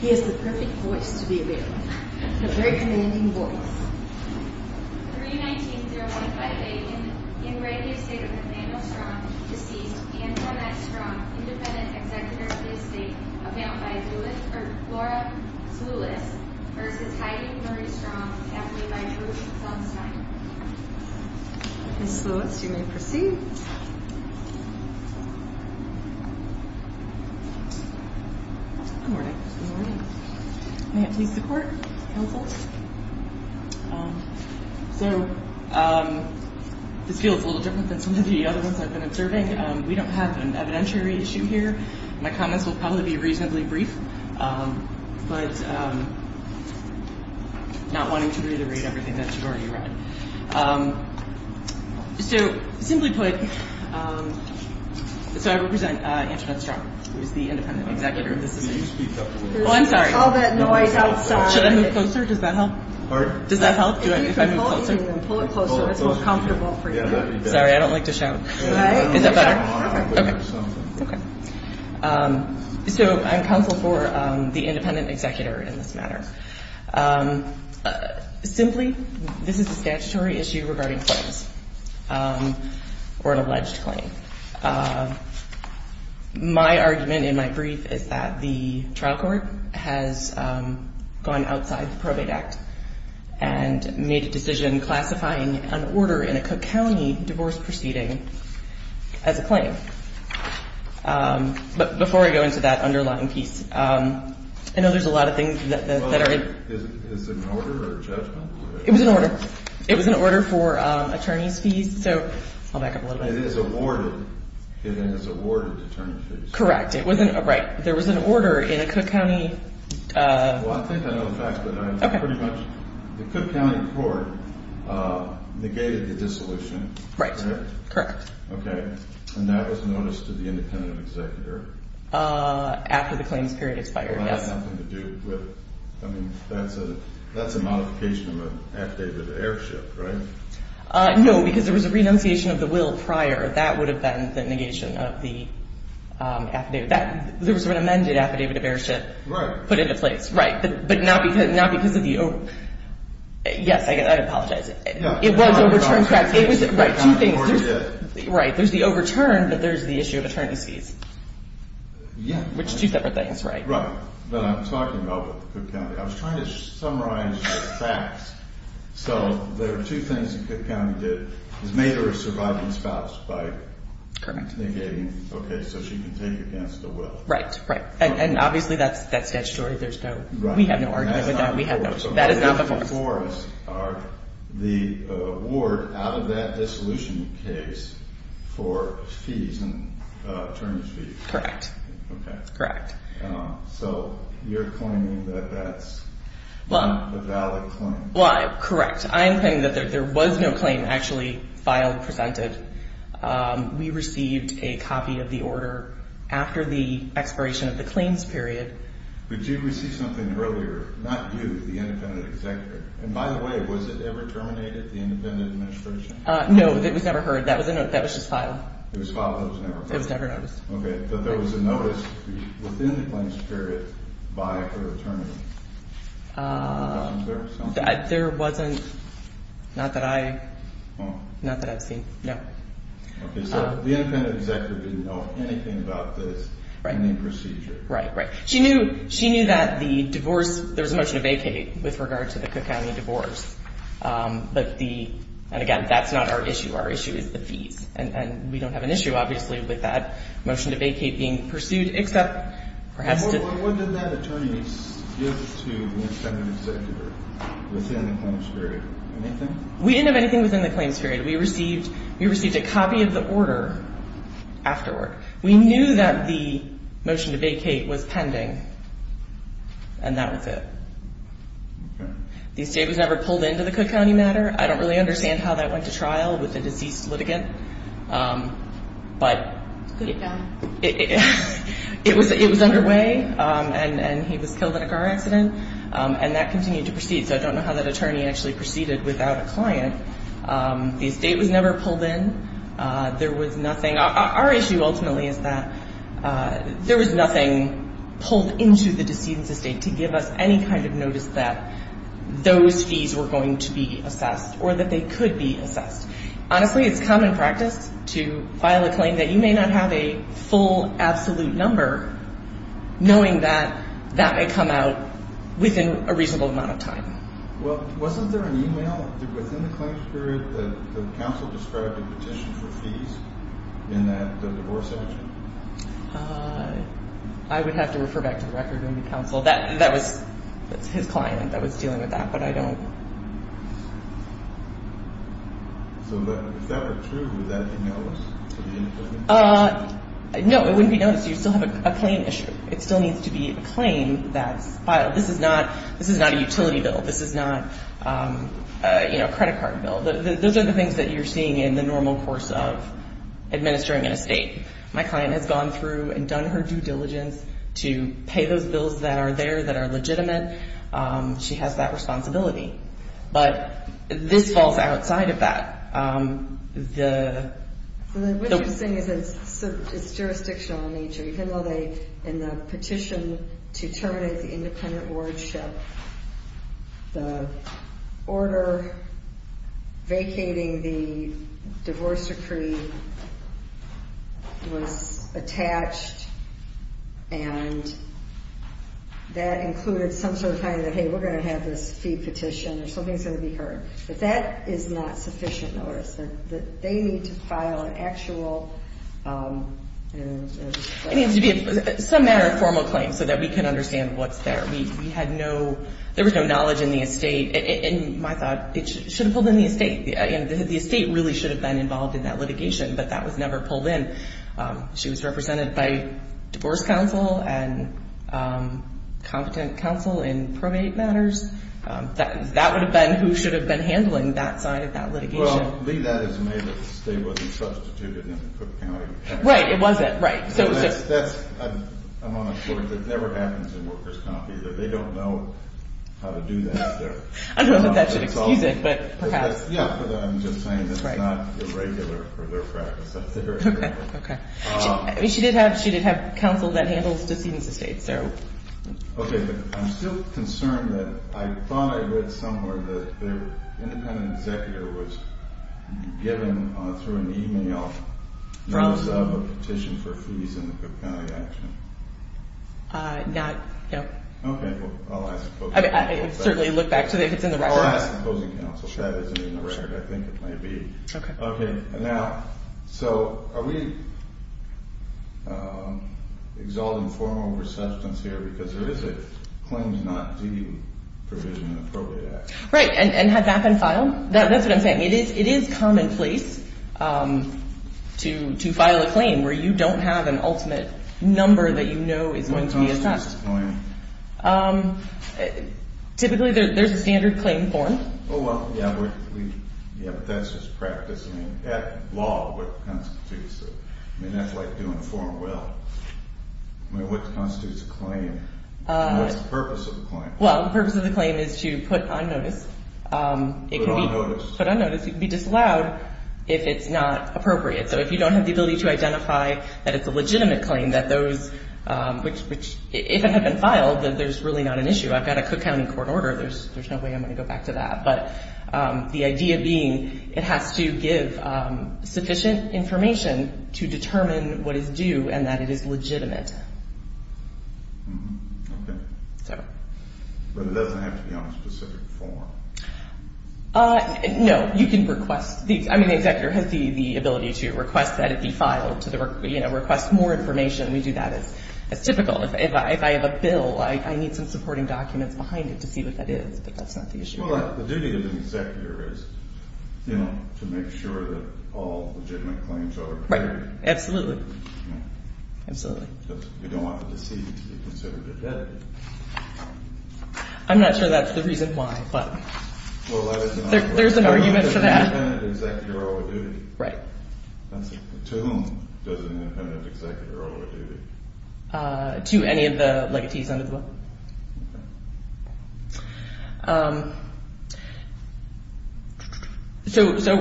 He is the perfect voice to be a bailiff. A very commanding voice. 319-015-8. In re The Estate of Nathaniel Strong, deceased, Anne Cornette Strong, independent executive of The Estate, availed by Flora Sulis, versus Heidi Marie Strong, accompanied by Drew Selmstein. Ms. Sulis, you may proceed. Good morning. May it please the court, counsel. So, this feels a little different than some of the other ones I've been observing. We don't have an evidentiary issue here. My comments will probably be reasonably brief, but not wanting to reiterate everything that you've already read. So, simply put, so I represent Anne Cornette Strong, who is the independent executive of The Estate. Can you speak up a little bit? Oh, I'm sorry. There's all that noise outside. Should I move closer? Does that help? Pardon? Does that help if I move closer? If you can hold it and pull it closer, it's more comfortable for you. Sorry, I don't like to shout. Is that better? Okay. Okay. So, I'm counsel for the independent executive in this matter. Simply, this is a statutory issue regarding claims or an alleged claim. My argument in my brief is that the trial court has gone outside the Probate Act and made a decision classifying an order in a Cook County divorce proceeding as a claim. But before I go into that underlying piece, I know there's a lot of things that are in it. Is it an order or a judgment? It was an order. It was an order for attorney's fees. So, I'll back up a little bit. It is awarded. It is awarded attorney's fees. Correct. Right. There was an order in a Cook County. Well, I think I know the facts, but I pretty much, the Cook County court negated the dissolution. Right. Correct. Okay. And that was noticed to the independent executor? After the claims period expired, yes. Well, that has nothing to do with it. I mean, that's a modification of an affidavit of airship, right? No, because there was a renunciation of the will prior. That would have been the negation of the affidavit. There was an amended affidavit of airship put into place. Right. Right. But not because of the, yes, I apologize. It was overturned. Right. Two things. Right. There's the overturn, but there's the issue of attorney's fees. Yeah. Which is two separate things, right? Right. But I'm talking about the Cook County. I was trying to summarize the facts. So, there are two things the Cook County did. It made her a surviving spouse by negating, okay, so she can take against the will. Right. Right. And obviously, that's statutory. There's no, we have no argument with that. That is not before us. That is not before us. So, the claims are the award out of that dissolution case for fees and attorney's fees. Correct. Okay. Correct. So, you're claiming that that's a valid claim. Well, correct. I am claiming that there was no claim actually filed, presented. We received a copy of the order after the expiration of the claims period. But you received something earlier, not you, the independent executor. And by the way, was it ever terminated, the independent administration? No. It was never heard. That was just filed. It was filed. It was never heard. It was never noticed. Okay. But there was a notice within the claims period by her attorney. There wasn't, not that I, not that I've seen. No. Okay. So, the independent executor didn't know anything about this. Right. Any procedure. Right. Right. She knew, she knew that the divorce, there was a motion to vacate with regard to the Cook County divorce. But the, and again, that's not our issue. Our issue is the fees. And we don't have an issue, obviously, with that motion to vacate being pursued, except perhaps to. What did that attorney give to the independent executor within the claims period? Anything? We didn't have anything within the claims period. We received, we received a copy of the order afterward. We knew that the motion to vacate was pending. And that was it. Okay. The estate was never pulled into the Cook County matter. I don't really understand how that went to trial with a deceased litigant. But. It could have gone. It was underway. And he was killed in a car accident. And that continued to proceed. So, I don't know how that attorney actually proceeded without a client. The estate was never pulled in. There was nothing. Our issue ultimately is that there was nothing pulled into the decedent's estate to give us any kind of notice that those fees were going to be assessed or that they could be assessed. Honestly, it's common practice to file a claim that you may not have a full, absolute number, knowing that that may come out within a reasonable amount of time. Well, wasn't there an e-mail within the claims period that the counsel described a petition for fees in that divorce action? I would have to refer back to the record in the counsel. That was his client that was dealing with that. But I don't. So, if that were true, would that be noticed? No, it wouldn't be noticed. You still have a claim issue. It still needs to be a claim that's filed. This is not a utility bill. This is not a credit card bill. Those are the things that you're seeing in the normal course of administering an estate. My client has gone through and done her due diligence to pay those bills that are there, that are legitimate. She has that responsibility. But this falls outside of that. What you're saying is it's jurisdictional in nature. In the petition to terminate the independent wardship, the order vacating the divorce decree was attached, and that included some sort of kind of, hey, we're going to have this fee petition, or something's going to be heard. But that is not sufficient notice. They need to file an actual. It needs to be some manner of formal claim so that we can understand what's there. We had no, there was no knowledge in the estate. In my thought, it should have pulled in the estate. The estate really should have been involved in that litigation, but that was never pulled in. She was represented by divorce counsel and competent counsel in probate matters. That would have been who should have been handling that side of that litigation. Well, Lee, that is to say that the estate wasn't substituted in Cook County. Right. It wasn't. Right. I'm on the floor. It never happens in workers' comp either. They don't know how to do that. I don't know if that should excuse it, but perhaps. Yeah, but I'm just saying it's not irregular for their practice up there. Okay. She did have counsel that handles decedents' estates. Okay. I'm still concerned that I thought I read somewhere that their independent executor was given through an e-mail notice of a petition for fees in the Cook County action. Not, no. Okay. I'll ask the opposing counsel. I'll certainly look back to it if it's in the record. I'll ask the opposing counsel if that is in the record. I think it may be. Okay. Okay. Now, so are we exalting form over substance here? Because there is a claims not due provision in the Appropriate Act. Right. And has that been filed? That's what I'm saying. It is commonplace to file a claim where you don't have an ultimate number that you know is going to be assessed. What constitutes a claim? Typically, there's a standard claim form. Oh, well, yeah, but that's just practice. I mean, that law, what constitutes it? I mean, that's like doing a form well. What constitutes a claim? What's the purpose of the claim? Well, the purpose of the claim is to put on notice. Put on notice. Put on notice. It can be disallowed if it's not appropriate. So if you don't have the ability to identify that it's a legitimate claim, that those, which, if it had been filed, then there's really not an issue. I've got a Cook County court order. There's no way I'm going to go back to that. But the idea being it has to give sufficient information to determine what is due and that it is legitimate. Okay. So. But it doesn't have to be on a specific form. No. You can request these. I mean, the executor has the ability to request that it be filed to the, you know, request more information. We do that as typical. If I have a bill, I need some supporting documents behind it to see what that is. But that's not the issue. Well, the duty of the executor is, you know, to make sure that all legitimate claims are prepared. Right. Absolutely. Absolutely. You don't want the decedent to be considered a debtor. I'm not sure that's the reason why, but there's an argument for that. Well, that is an argument. Does an independent executor owe a duty? Right. To whom does an independent executor owe a duty? To any of the legatees under the law. So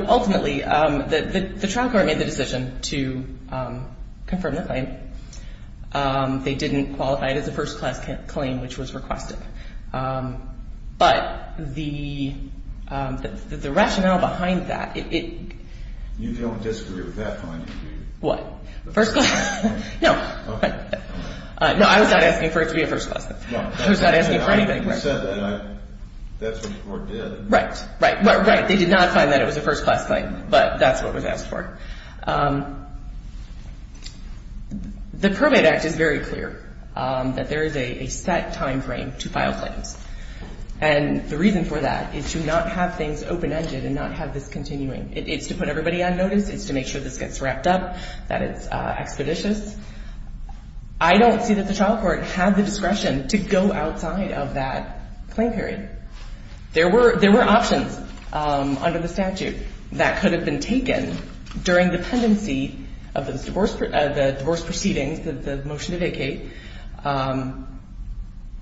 ultimately, the trial court made the decision to confirm the claim. They didn't qualify it as a first-class claim, which was requested. But the rationale behind that, it — You don't disagree with that finding, do you? What? First-class? No. Okay. No, I was not asking for it to be a first-class claim. I was not asking for anything. You said that. That's what the court did. Right. Right. Right. They did not find that it was a first-class claim, but that's what was asked for. The Pervade Act is very clear that there is a set timeframe to file claims. And the reason for that is to not have things open-ended and not have this continuing. It's to put everybody on notice. It's to make sure this gets wrapped up, that it's expeditious. I don't see that the trial court had the discretion to go outside of that claim period. There were options under the statute that could have been taken during the pendency of the divorce proceedings, the motion to vacate.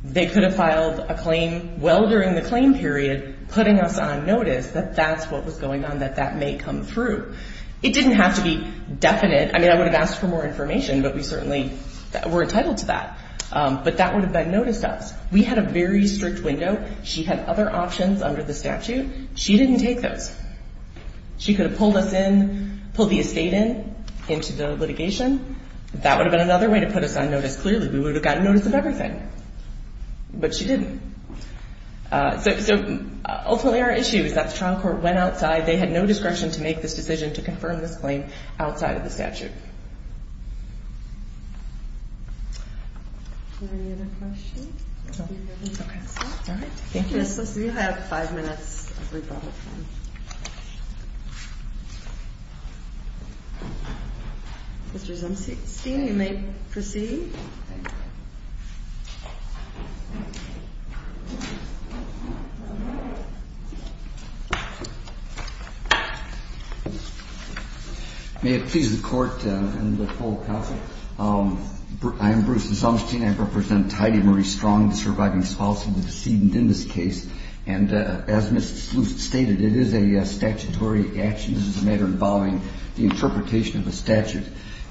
They could have filed a claim well during the claim period, putting us on notice that that's what was going on, that that may come through. It didn't have to be definite. I mean, I would have asked for more information, but we certainly were entitled to that. But that would have been noticed to us. We had a very strict window. She had other options under the statute. She didn't take those. She could have pulled us in, pulled the estate in, into the litigation. That would have been another way to put us on notice, clearly. We would have gotten notice of everything. But she didn't. So, ultimately, our issue is that the trial court went outside. They had no discretion to make this decision to confirm this claim outside of the statute. Any other questions? All right. Thank you. We have five minutes of rebuttal time. Mr. Zumstein, you may proceed. May it please the Court and the full Counsel, I am Bruce Zumstein. I represent Heidi Marie Strong, the surviving spouse of the decedent in this case. And as Ms. Luce stated, it is a statutory action. This is a matter involving the interpretation of a statute.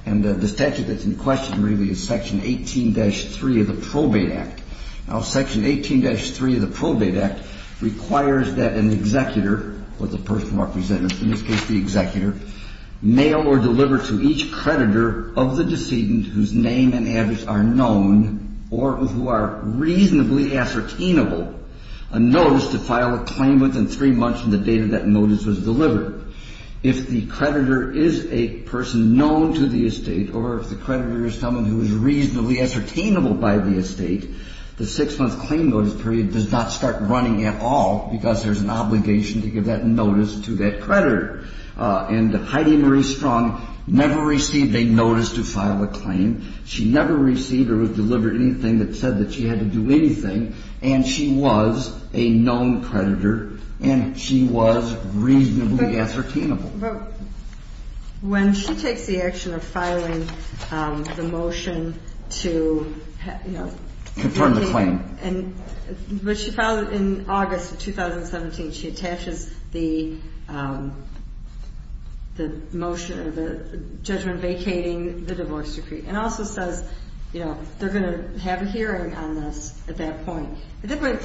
And the statute that's in question, really, is Section 8. Section 18-3 of the Probate Act. Now, Section 18-3 of the Probate Act requires that an executor, or the person representing, in this case the executor, mail or deliver to each creditor of the decedent whose name and address are known or who are reasonably ascertainable a notice to file a claim within three months from the date that notice was delivered. If the creditor is a person known to the estate or if the creditor is someone who is reasonably ascertainable by the estate, the six-month claim notice period does not start running at all because there's an obligation to give that notice to that creditor. And Heidi Marie Strong never received a notice to file a claim. She never received or delivered anything that said that she had to do anything. And she was a known creditor and she was reasonably ascertainable. But when she takes the action of filing the motion to, you know, Confirm the claim. But she filed it in August of 2017. She attaches the motion or the judgment vacating the divorce decree. And also says, you know, they're going to have a hearing on this at that point. I mean,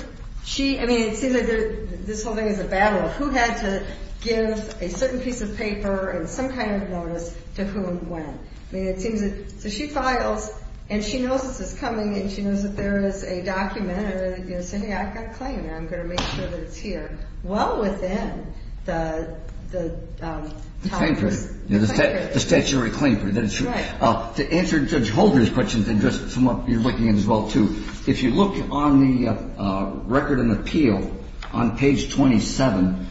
it seems like this whole thing is a battle of who had to give a certain piece of paper and some kind of notice to who and when. I mean, it seems that she files and she knows this is coming and she knows that there is a document, a semiotic claim, and I'm going to make sure that it's here. Well, within the statuary claim. That's right. To answer Judge Holder's questions and just what you're looking at as well, too. If you look on the record and appeal on page 27,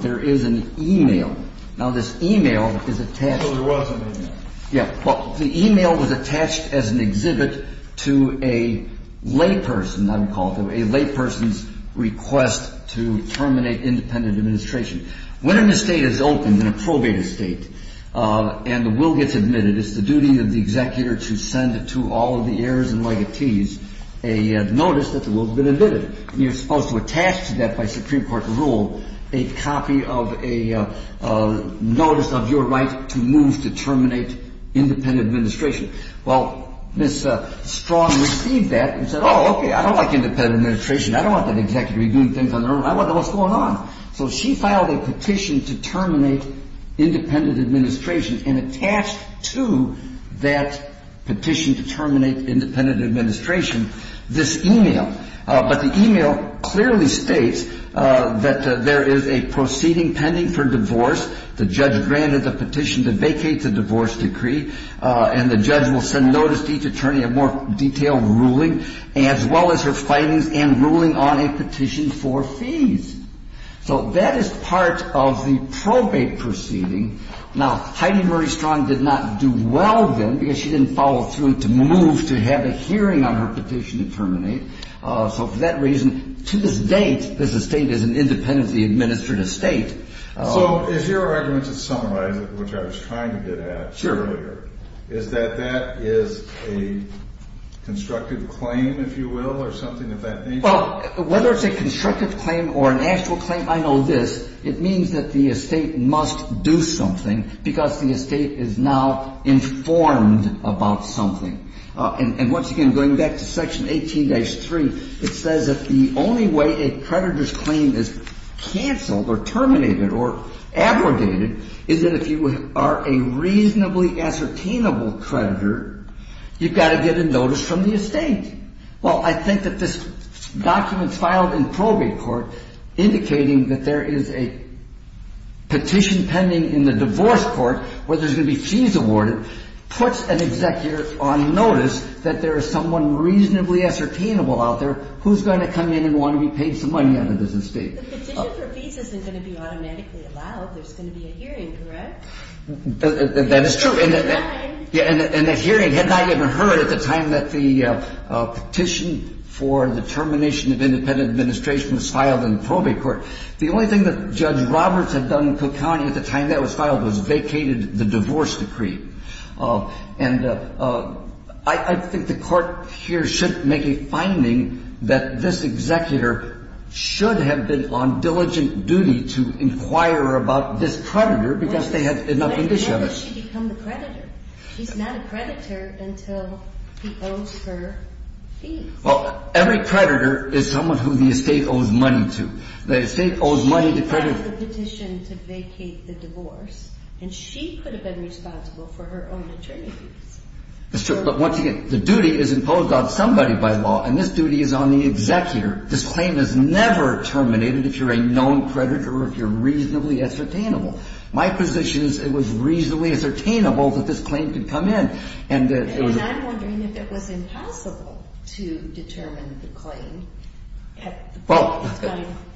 there is an email. Now, this email is attached. Yeah. Well, the email was attached as an exhibit to a layperson, I would call it, a layperson's request to terminate independent administration. When an estate is opened, an approbated estate, and the will gets admitted, it's the duty of the executor to send to all of the heirs and legatees a notice that the will has been admitted. And you're supposed to attach to that by Supreme Court rule a copy of a notice of your right to move to terminate independent administration. Well, Ms. Strong received that and said, oh, okay, I don't like independent administration. I don't want that executive doing things on their own. I want to know what's going on. So she filed a petition to terminate independent administration and attached to that petition to terminate independent administration this email. But the email clearly states that there is a proceeding pending for divorce. The judge granted the petition to vacate the divorce decree, and the judge will send notice to each attorney of more detailed ruling as well as her findings and ruling on a petition for fees. So that is part of the probate proceeding. Now, Heidi Murray Strong did not do well then because she didn't follow through to move to have a hearing on her petition to terminate. So for that reason, to this date, this estate is an independently administered estate. So is your argument to summarize it, which I was trying to get at earlier, is that that is a constructive claim, if you will, or something of that nature? Well, whether it's a constructive claim or an actual claim, I know this. It means that the estate must do something because the estate is now informed about something. And once again, going back to Section 18-3, it says that the only way a creditor's claim is canceled or terminated or abrogated is that if you are a reasonably ascertainable creditor, you've got to get a notice from the estate. Well, I think that this document filed in probate court indicating that there is a petition pending in the divorce court where there's going to be fees awarded puts an executor on notice that there is someone reasonably ascertainable out there who's going to come in and want to be paid some money on the business deed. The petition for fees isn't going to be automatically allowed. There's going to be a hearing, correct? That is true. And that hearing had not yet been heard at the time that the petition for the termination of independent administration was filed in probate court. The only thing that Judge Roberts had done in Cook County at the time that was filed was vacated the divorce decree. And I think the court here should make a finding that this executor should have been on diligent duty to inquire about this creditor because they had enough intention of it. But then does she become the creditor? She's not a creditor until he owes her fees. Well, every creditor is someone who the estate owes money to. The estate owes money to creditors. She filed the petition to vacate the divorce, and she could have been responsible for her own attorney fees. That's true. But once again, the duty is imposed on somebody by law, and this duty is on the executor. This claim is never terminated if you're a known creditor or if you're reasonably ascertainable. My position is it was reasonably ascertainable that this claim could come in. And I'm wondering if it was impossible to determine the claim. Well,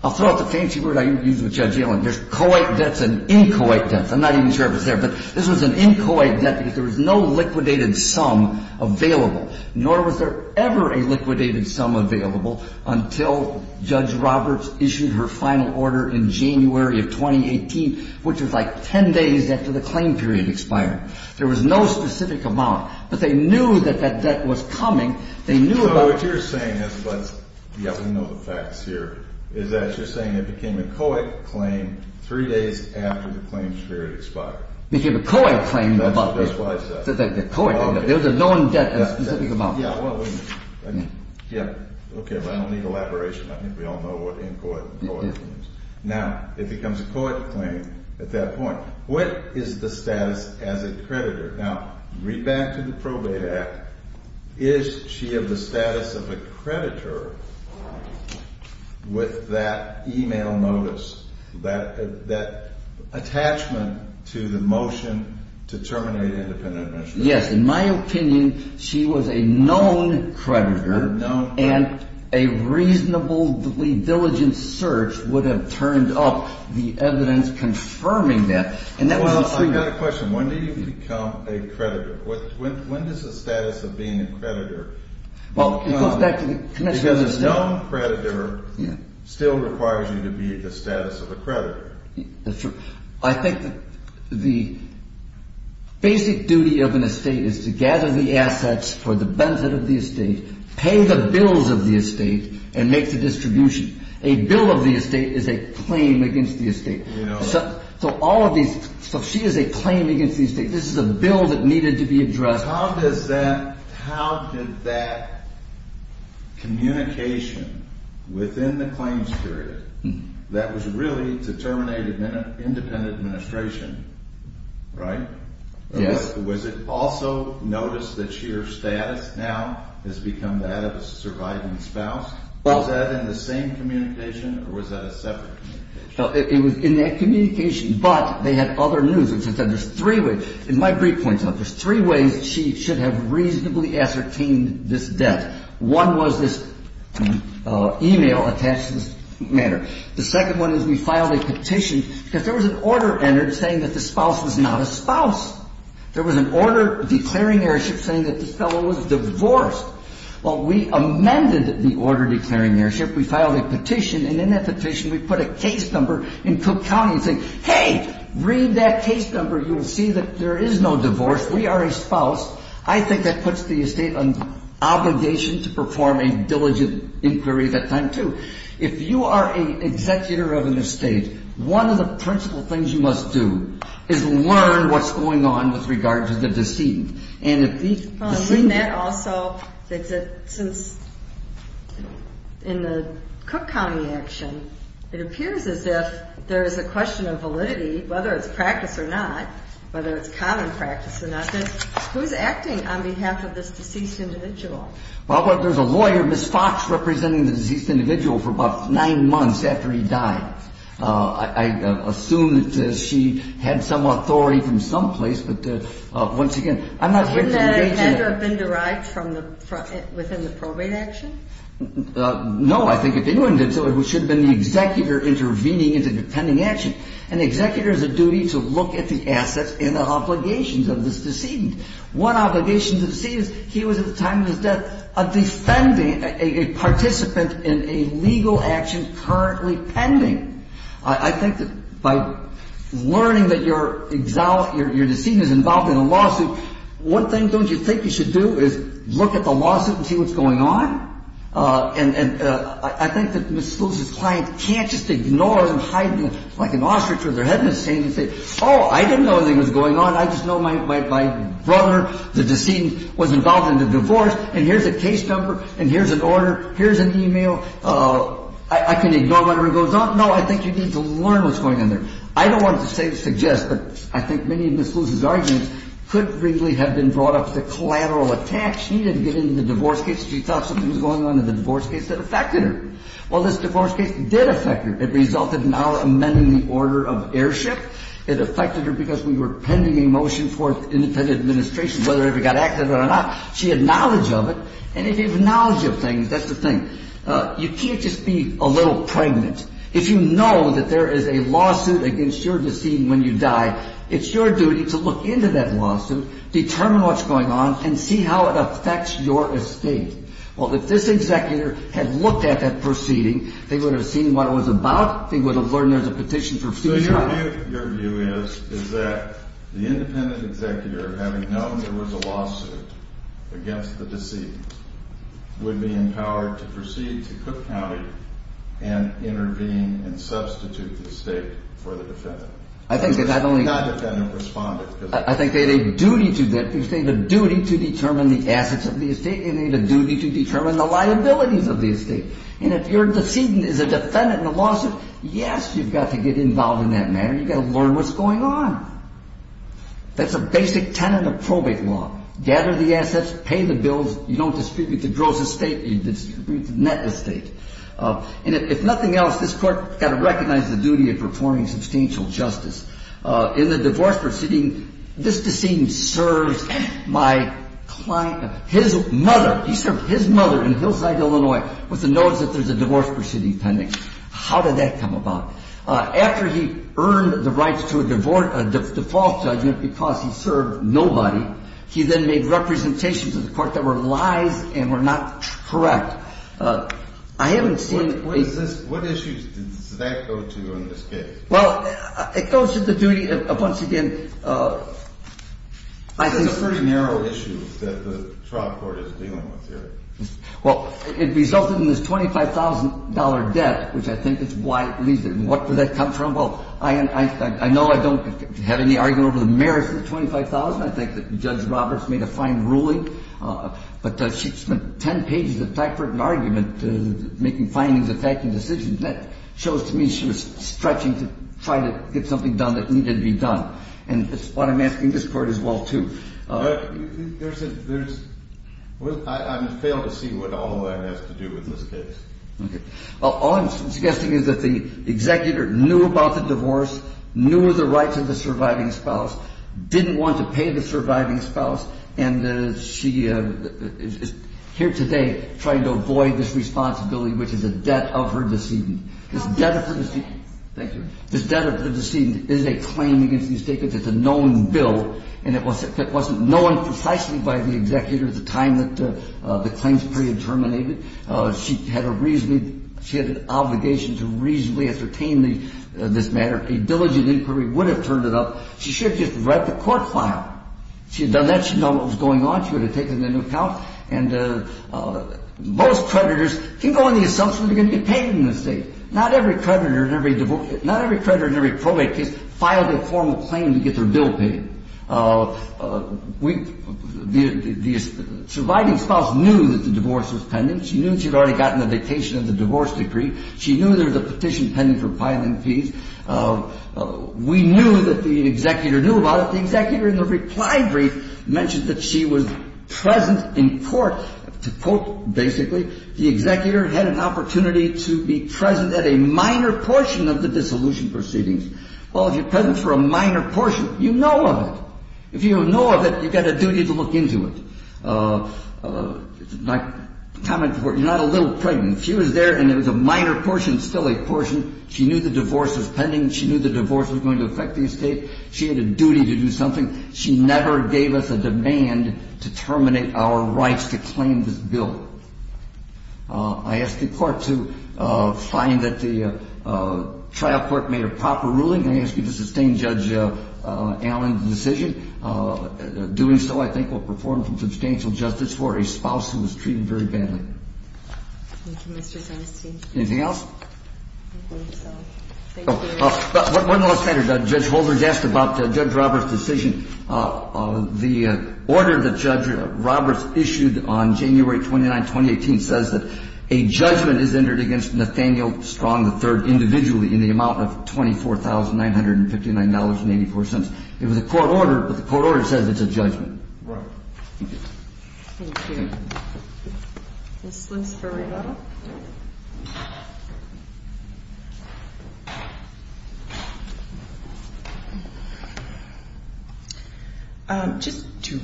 I'll throw out the fancy word I use with Judge Yellen. There's co-ed debts and in-co-ed debts. I'm not even sure if it's there. But this was an in-co-ed debt because there was no liquidated sum available, nor was there ever a liquidated sum available until Judge Roberts issued her final order in January of 2018, which was like 10 days after the claim period expired. There was no specific amount. But they knew that that debt was coming. So what you're saying is – yes, we know the facts here – is that you're saying it became a co-ed claim three days after the claim period expired. It became a co-ed claim. That's what I said. The co-ed debt. There was a known debt, a specific amount. Yeah. Okay, but I don't need elaboration. I think we all know what in-co-ed and co-ed means. Now, it becomes a co-ed claim at that point. What is the status as a creditor? Now, read back to the Probate Act. Is she of the status of a creditor with that email notice, that attachment to the motion to terminate independent administration? Yes. In my opinion, she was a known creditor. A known creditor. And a reasonably diligent search would have turned up the evidence confirming that. Well, I've got a question. When do you become a creditor? When does the status of being a creditor become – Well, it goes back to the connection to the estate. Because a known creditor still requires you to be the status of a creditor. That's true. I think the basic duty of an estate is to gather the assets for the benefit of the estate, pay the bills of the estate, and make the distribution. A bill of the estate is a claim against the estate. So all of these – so she is a claim against the estate. This is a bill that needed to be addressed. How does that – how did that communication within the claims period that was really to terminate independent administration – right? Yes. Was it also notice that she or status now has become that of a surviving spouse? Was that in the same communication or was that a separate communication? It was in that communication, but they had other news, which is that there's three ways. And my brief points out there's three ways she should have reasonably ascertained this death. One was this e-mail attached to this matter. The second one is we filed a petition because there was an order entered saying that the spouse was not a spouse. There was an order declaring heirship saying that this fellow was divorced. Well, we amended the order declaring heirship. We filed a petition, and in that petition we put a case number in Cook County saying, hey, read that case number. You will see that there is no divorce. We are a spouse. I think that puts the estate on obligation to perform a diligent inquiry at that time, too. If you are an executor of an estate, one of the principal things you must do is learn what's going on with regard to the decedent. We met also that since in the Cook County action it appears as if there is a question of validity, whether it's practice or not, whether it's common practice or not, that who's acting on behalf of this deceased individual? Well, there's a lawyer, Ms. Fox, representing the deceased individual for about nine months after he died. I assume that she had some authority from some place, but once again, I'm not going to engage in that. Wouldn't that have been derived from within the probate action? No, I think it didn't. It should have been the executor intervening in the pending action. An executor has a duty to look at the assets and the obligations of this decedent. One obligation to the decedent is he was at the time of his death a participant in a legal action currently pending. I think that by learning that your decedent is involved in a lawsuit, one thing don't you think you should do is look at the lawsuit and see what's going on? And I think that Ms. Lewis's client can't just ignore and hide like an ostrich with their head in a sand and say, oh, I didn't know anything was going on. I just know my brother, the decedent, was involved in the divorce. And here's a case number and here's an order. Here's an email. I can ignore whatever goes on. No, I think you need to learn what's going on there. I don't want to suggest, but I think many of Ms. Lewis's arguments could really have been brought up to collateral attacks. She didn't get into the divorce case. She thought something was going on in the divorce case that affected her. Well, this divorce case did affect her. It resulted in our amending the order of airship. It affected her because we were pending a motion for independent administration, whether it got accepted or not. She had knowledge of it. And if you have knowledge of things, that's the thing. You can't just be a little pregnant. If you know that there is a lawsuit against your decedent when you die, it's your duty to look into that lawsuit, determine what's going on, and see how it affects your estate. Well, if this executor had looked at that proceeding, they would have seen what it was about. So your view is that the independent executor, having known there was a lawsuit against the decedent, would be empowered to proceed to Cook County and intervene and substitute the estate for the defendant? I think they not only – Not defendant, respondent. I think they had a duty to that. They had a duty to determine the assets of the estate. They had a duty to determine the liabilities of the estate. And if your decedent is a defendant in a lawsuit, yes, you've got to get involved in that matter. You've got to learn what's going on. That's a basic tenet of probate law. Gather the assets, pay the bills, you don't distribute the gross estate, you distribute the net estate. And if nothing else, this court got to recognize the duty of performing substantial justice. In the divorce proceeding, this decedent served my client – his mother. He served his mother in Hillside, Illinois, with the notice that there's a divorce proceeding pending. How did that come about? After he earned the rights to a default judgment because he served nobody, he then made representations to the court that were lies and were not correct. I haven't seen – What issues does that go to in this case? Well, it goes to the duty of, once again, I think – It's a very narrow issue that the trial court is dealing with here. Well, it resulted in this $25,000 debt, which I think is why it leaves it. And what did that come from? Well, I know I don't have any argument over the merits of the $25,000. I think that Judge Roberts made a fine ruling. But she spent 10 pages of typewritten argument making findings, attacking decisions. And that shows to me she was stretching to try to get something done that needed to be done. And that's what I'm asking this court as well, too. But there's – I fail to see what all of that has to do with this case. Okay. Well, all I'm suggesting is that the executor knew about the divorce, knew the rights of the surviving spouse, didn't want to pay the surviving spouse, and she is here today trying to avoid this responsibility, which is a debt of her decedent. Thank you. This debt of her decedent is a claim against these statements. It's a known bill. And it wasn't known precisely by the executor at the time that the claims period terminated. She had a reasonably – she had an obligation to reasonably ascertain this matter. A diligent inquiry would have turned it up. She should have just read the court file. If she had done that, she'd know what was going on. She would have taken it into account. And most creditors can go on the assumption they're going to be paid in this case. Not every creditor in every – not every creditor in every probate case filed a formal claim to get their bill paid. We – the surviving spouse knew that the divorce was pending. She knew she had already gotten the dictation of the divorce decree. She knew there was a petition pending for filing fees. We knew that the executor knew about it. The executor, in the reply brief, mentioned that she was present in court. To quote, basically, the executor had an opportunity to be present at a minor portion of the dissolution proceedings. Well, if you're present for a minor portion, you know of it. If you know of it, you've got a duty to look into it. My comment before – you're not a little pregnant. She was there, and it was a minor portion, still a portion. She knew the divorce was pending. She knew the divorce was going to affect the estate. She had a duty to do something. She never gave us a demand to terminate our rights to claim this bill. I ask the court to find that the trial court made a proper ruling. I ask you to sustain Judge Allen's decision. Doing so, I think, will perform some substantial justice for a spouse who was treated very badly. Thank you, Mr. Zernstein. Anything else? I think that's all. Thank you. One last thing, Judge Holder. You asked about Judge Roberts' decision. The order that Judge Roberts issued on January 29, 2018, says that a judgment is entered against Nathaniel Strong III individually in the amount of $24,959.84. It was a court order, but the court order says it's a judgment. Right. Thank you. Thank you. This one's for Rita. Just to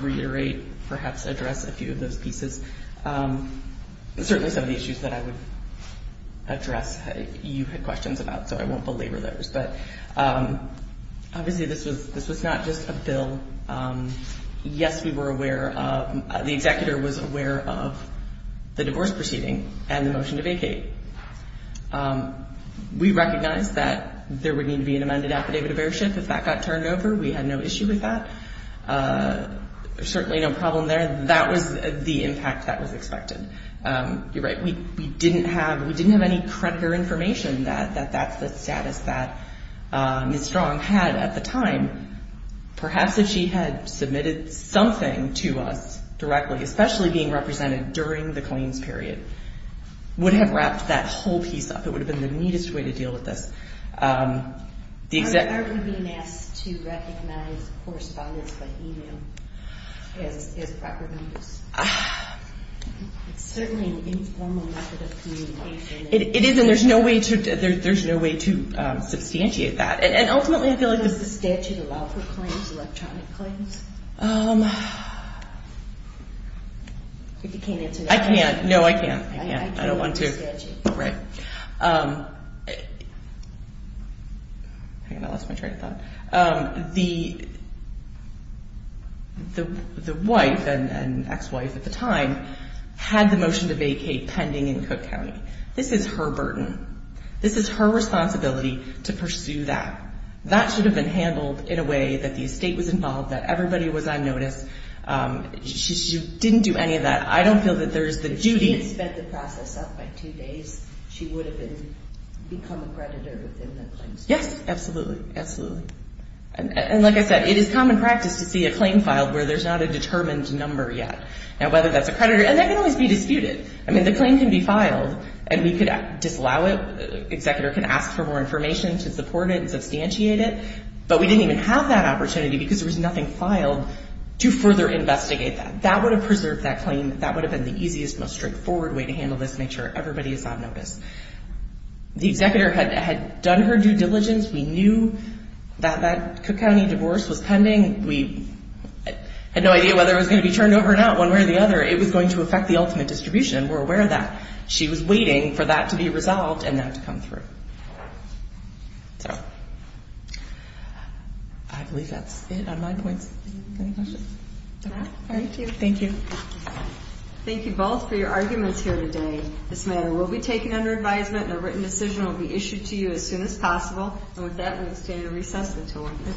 reiterate, perhaps address a few of those pieces. Certainly some of the issues that I would address you had questions about, so I won't belabor those. But obviously this was not just a bill. Yes, we were aware of, the executor was aware of the divorce proceeding and the motion to vacate. We recognized that there would need to be an amended affidavit of heirship. If that got turned over, we had no issue with that. Certainly no problem there. That was the impact that was expected. You're right. We didn't have any creditor information that that's the status that Ms. Strong had at the time. Perhaps if she had submitted something to us directly, especially being represented during the claims period, would have wrapped that whole piece up. It would have been the neatest way to deal with this. Aren't we being asked to recognize correspondence by email as proper use? It's certainly an informal method of communication. It is, and there's no way to substantiate that. Does the statute allow for claims, electronic claims? If you can't answer that. I can't. No, I can't. I can't. I don't want to. Right. I lost my train of thought. The wife and ex-wife at the time had the motion to vacate pending in Cook County. This is her burden. This is her responsibility to pursue that. That should have been handled in a way that the estate was involved, that everybody was on notice. She didn't do any of that. I don't feel that there's the duty. If she had spent the process up by two days, she would have become a creditor within the claims period. Yes, absolutely. Absolutely. And like I said, it is common practice to see a claim filed where there's not a determined number yet. Now, whether that's a creditor, and that can always be disputed. I mean, the claim can be filed, and we could disallow it. The executor can ask for more information to support it and substantiate it. But we didn't even have that opportunity because there was nothing filed to further investigate that. That would have preserved that claim. That would have been the easiest, most straightforward way to handle this and make sure everybody is on notice. The executor had done her due diligence. We knew that that Cook County divorce was pending. We had no idea whether it was going to be turned over or not, one way or the other. It was going to affect the ultimate distribution. We're aware of that. She was waiting for that to be resolved and that to come through. So, I believe that's it on my points. Any questions? All right. Thank you. Thank you both for your arguments here today. This matter will be taken under advisement, and a written decision will be issued to you as soon as possible. And with that, we extend a recess until 1 p.m.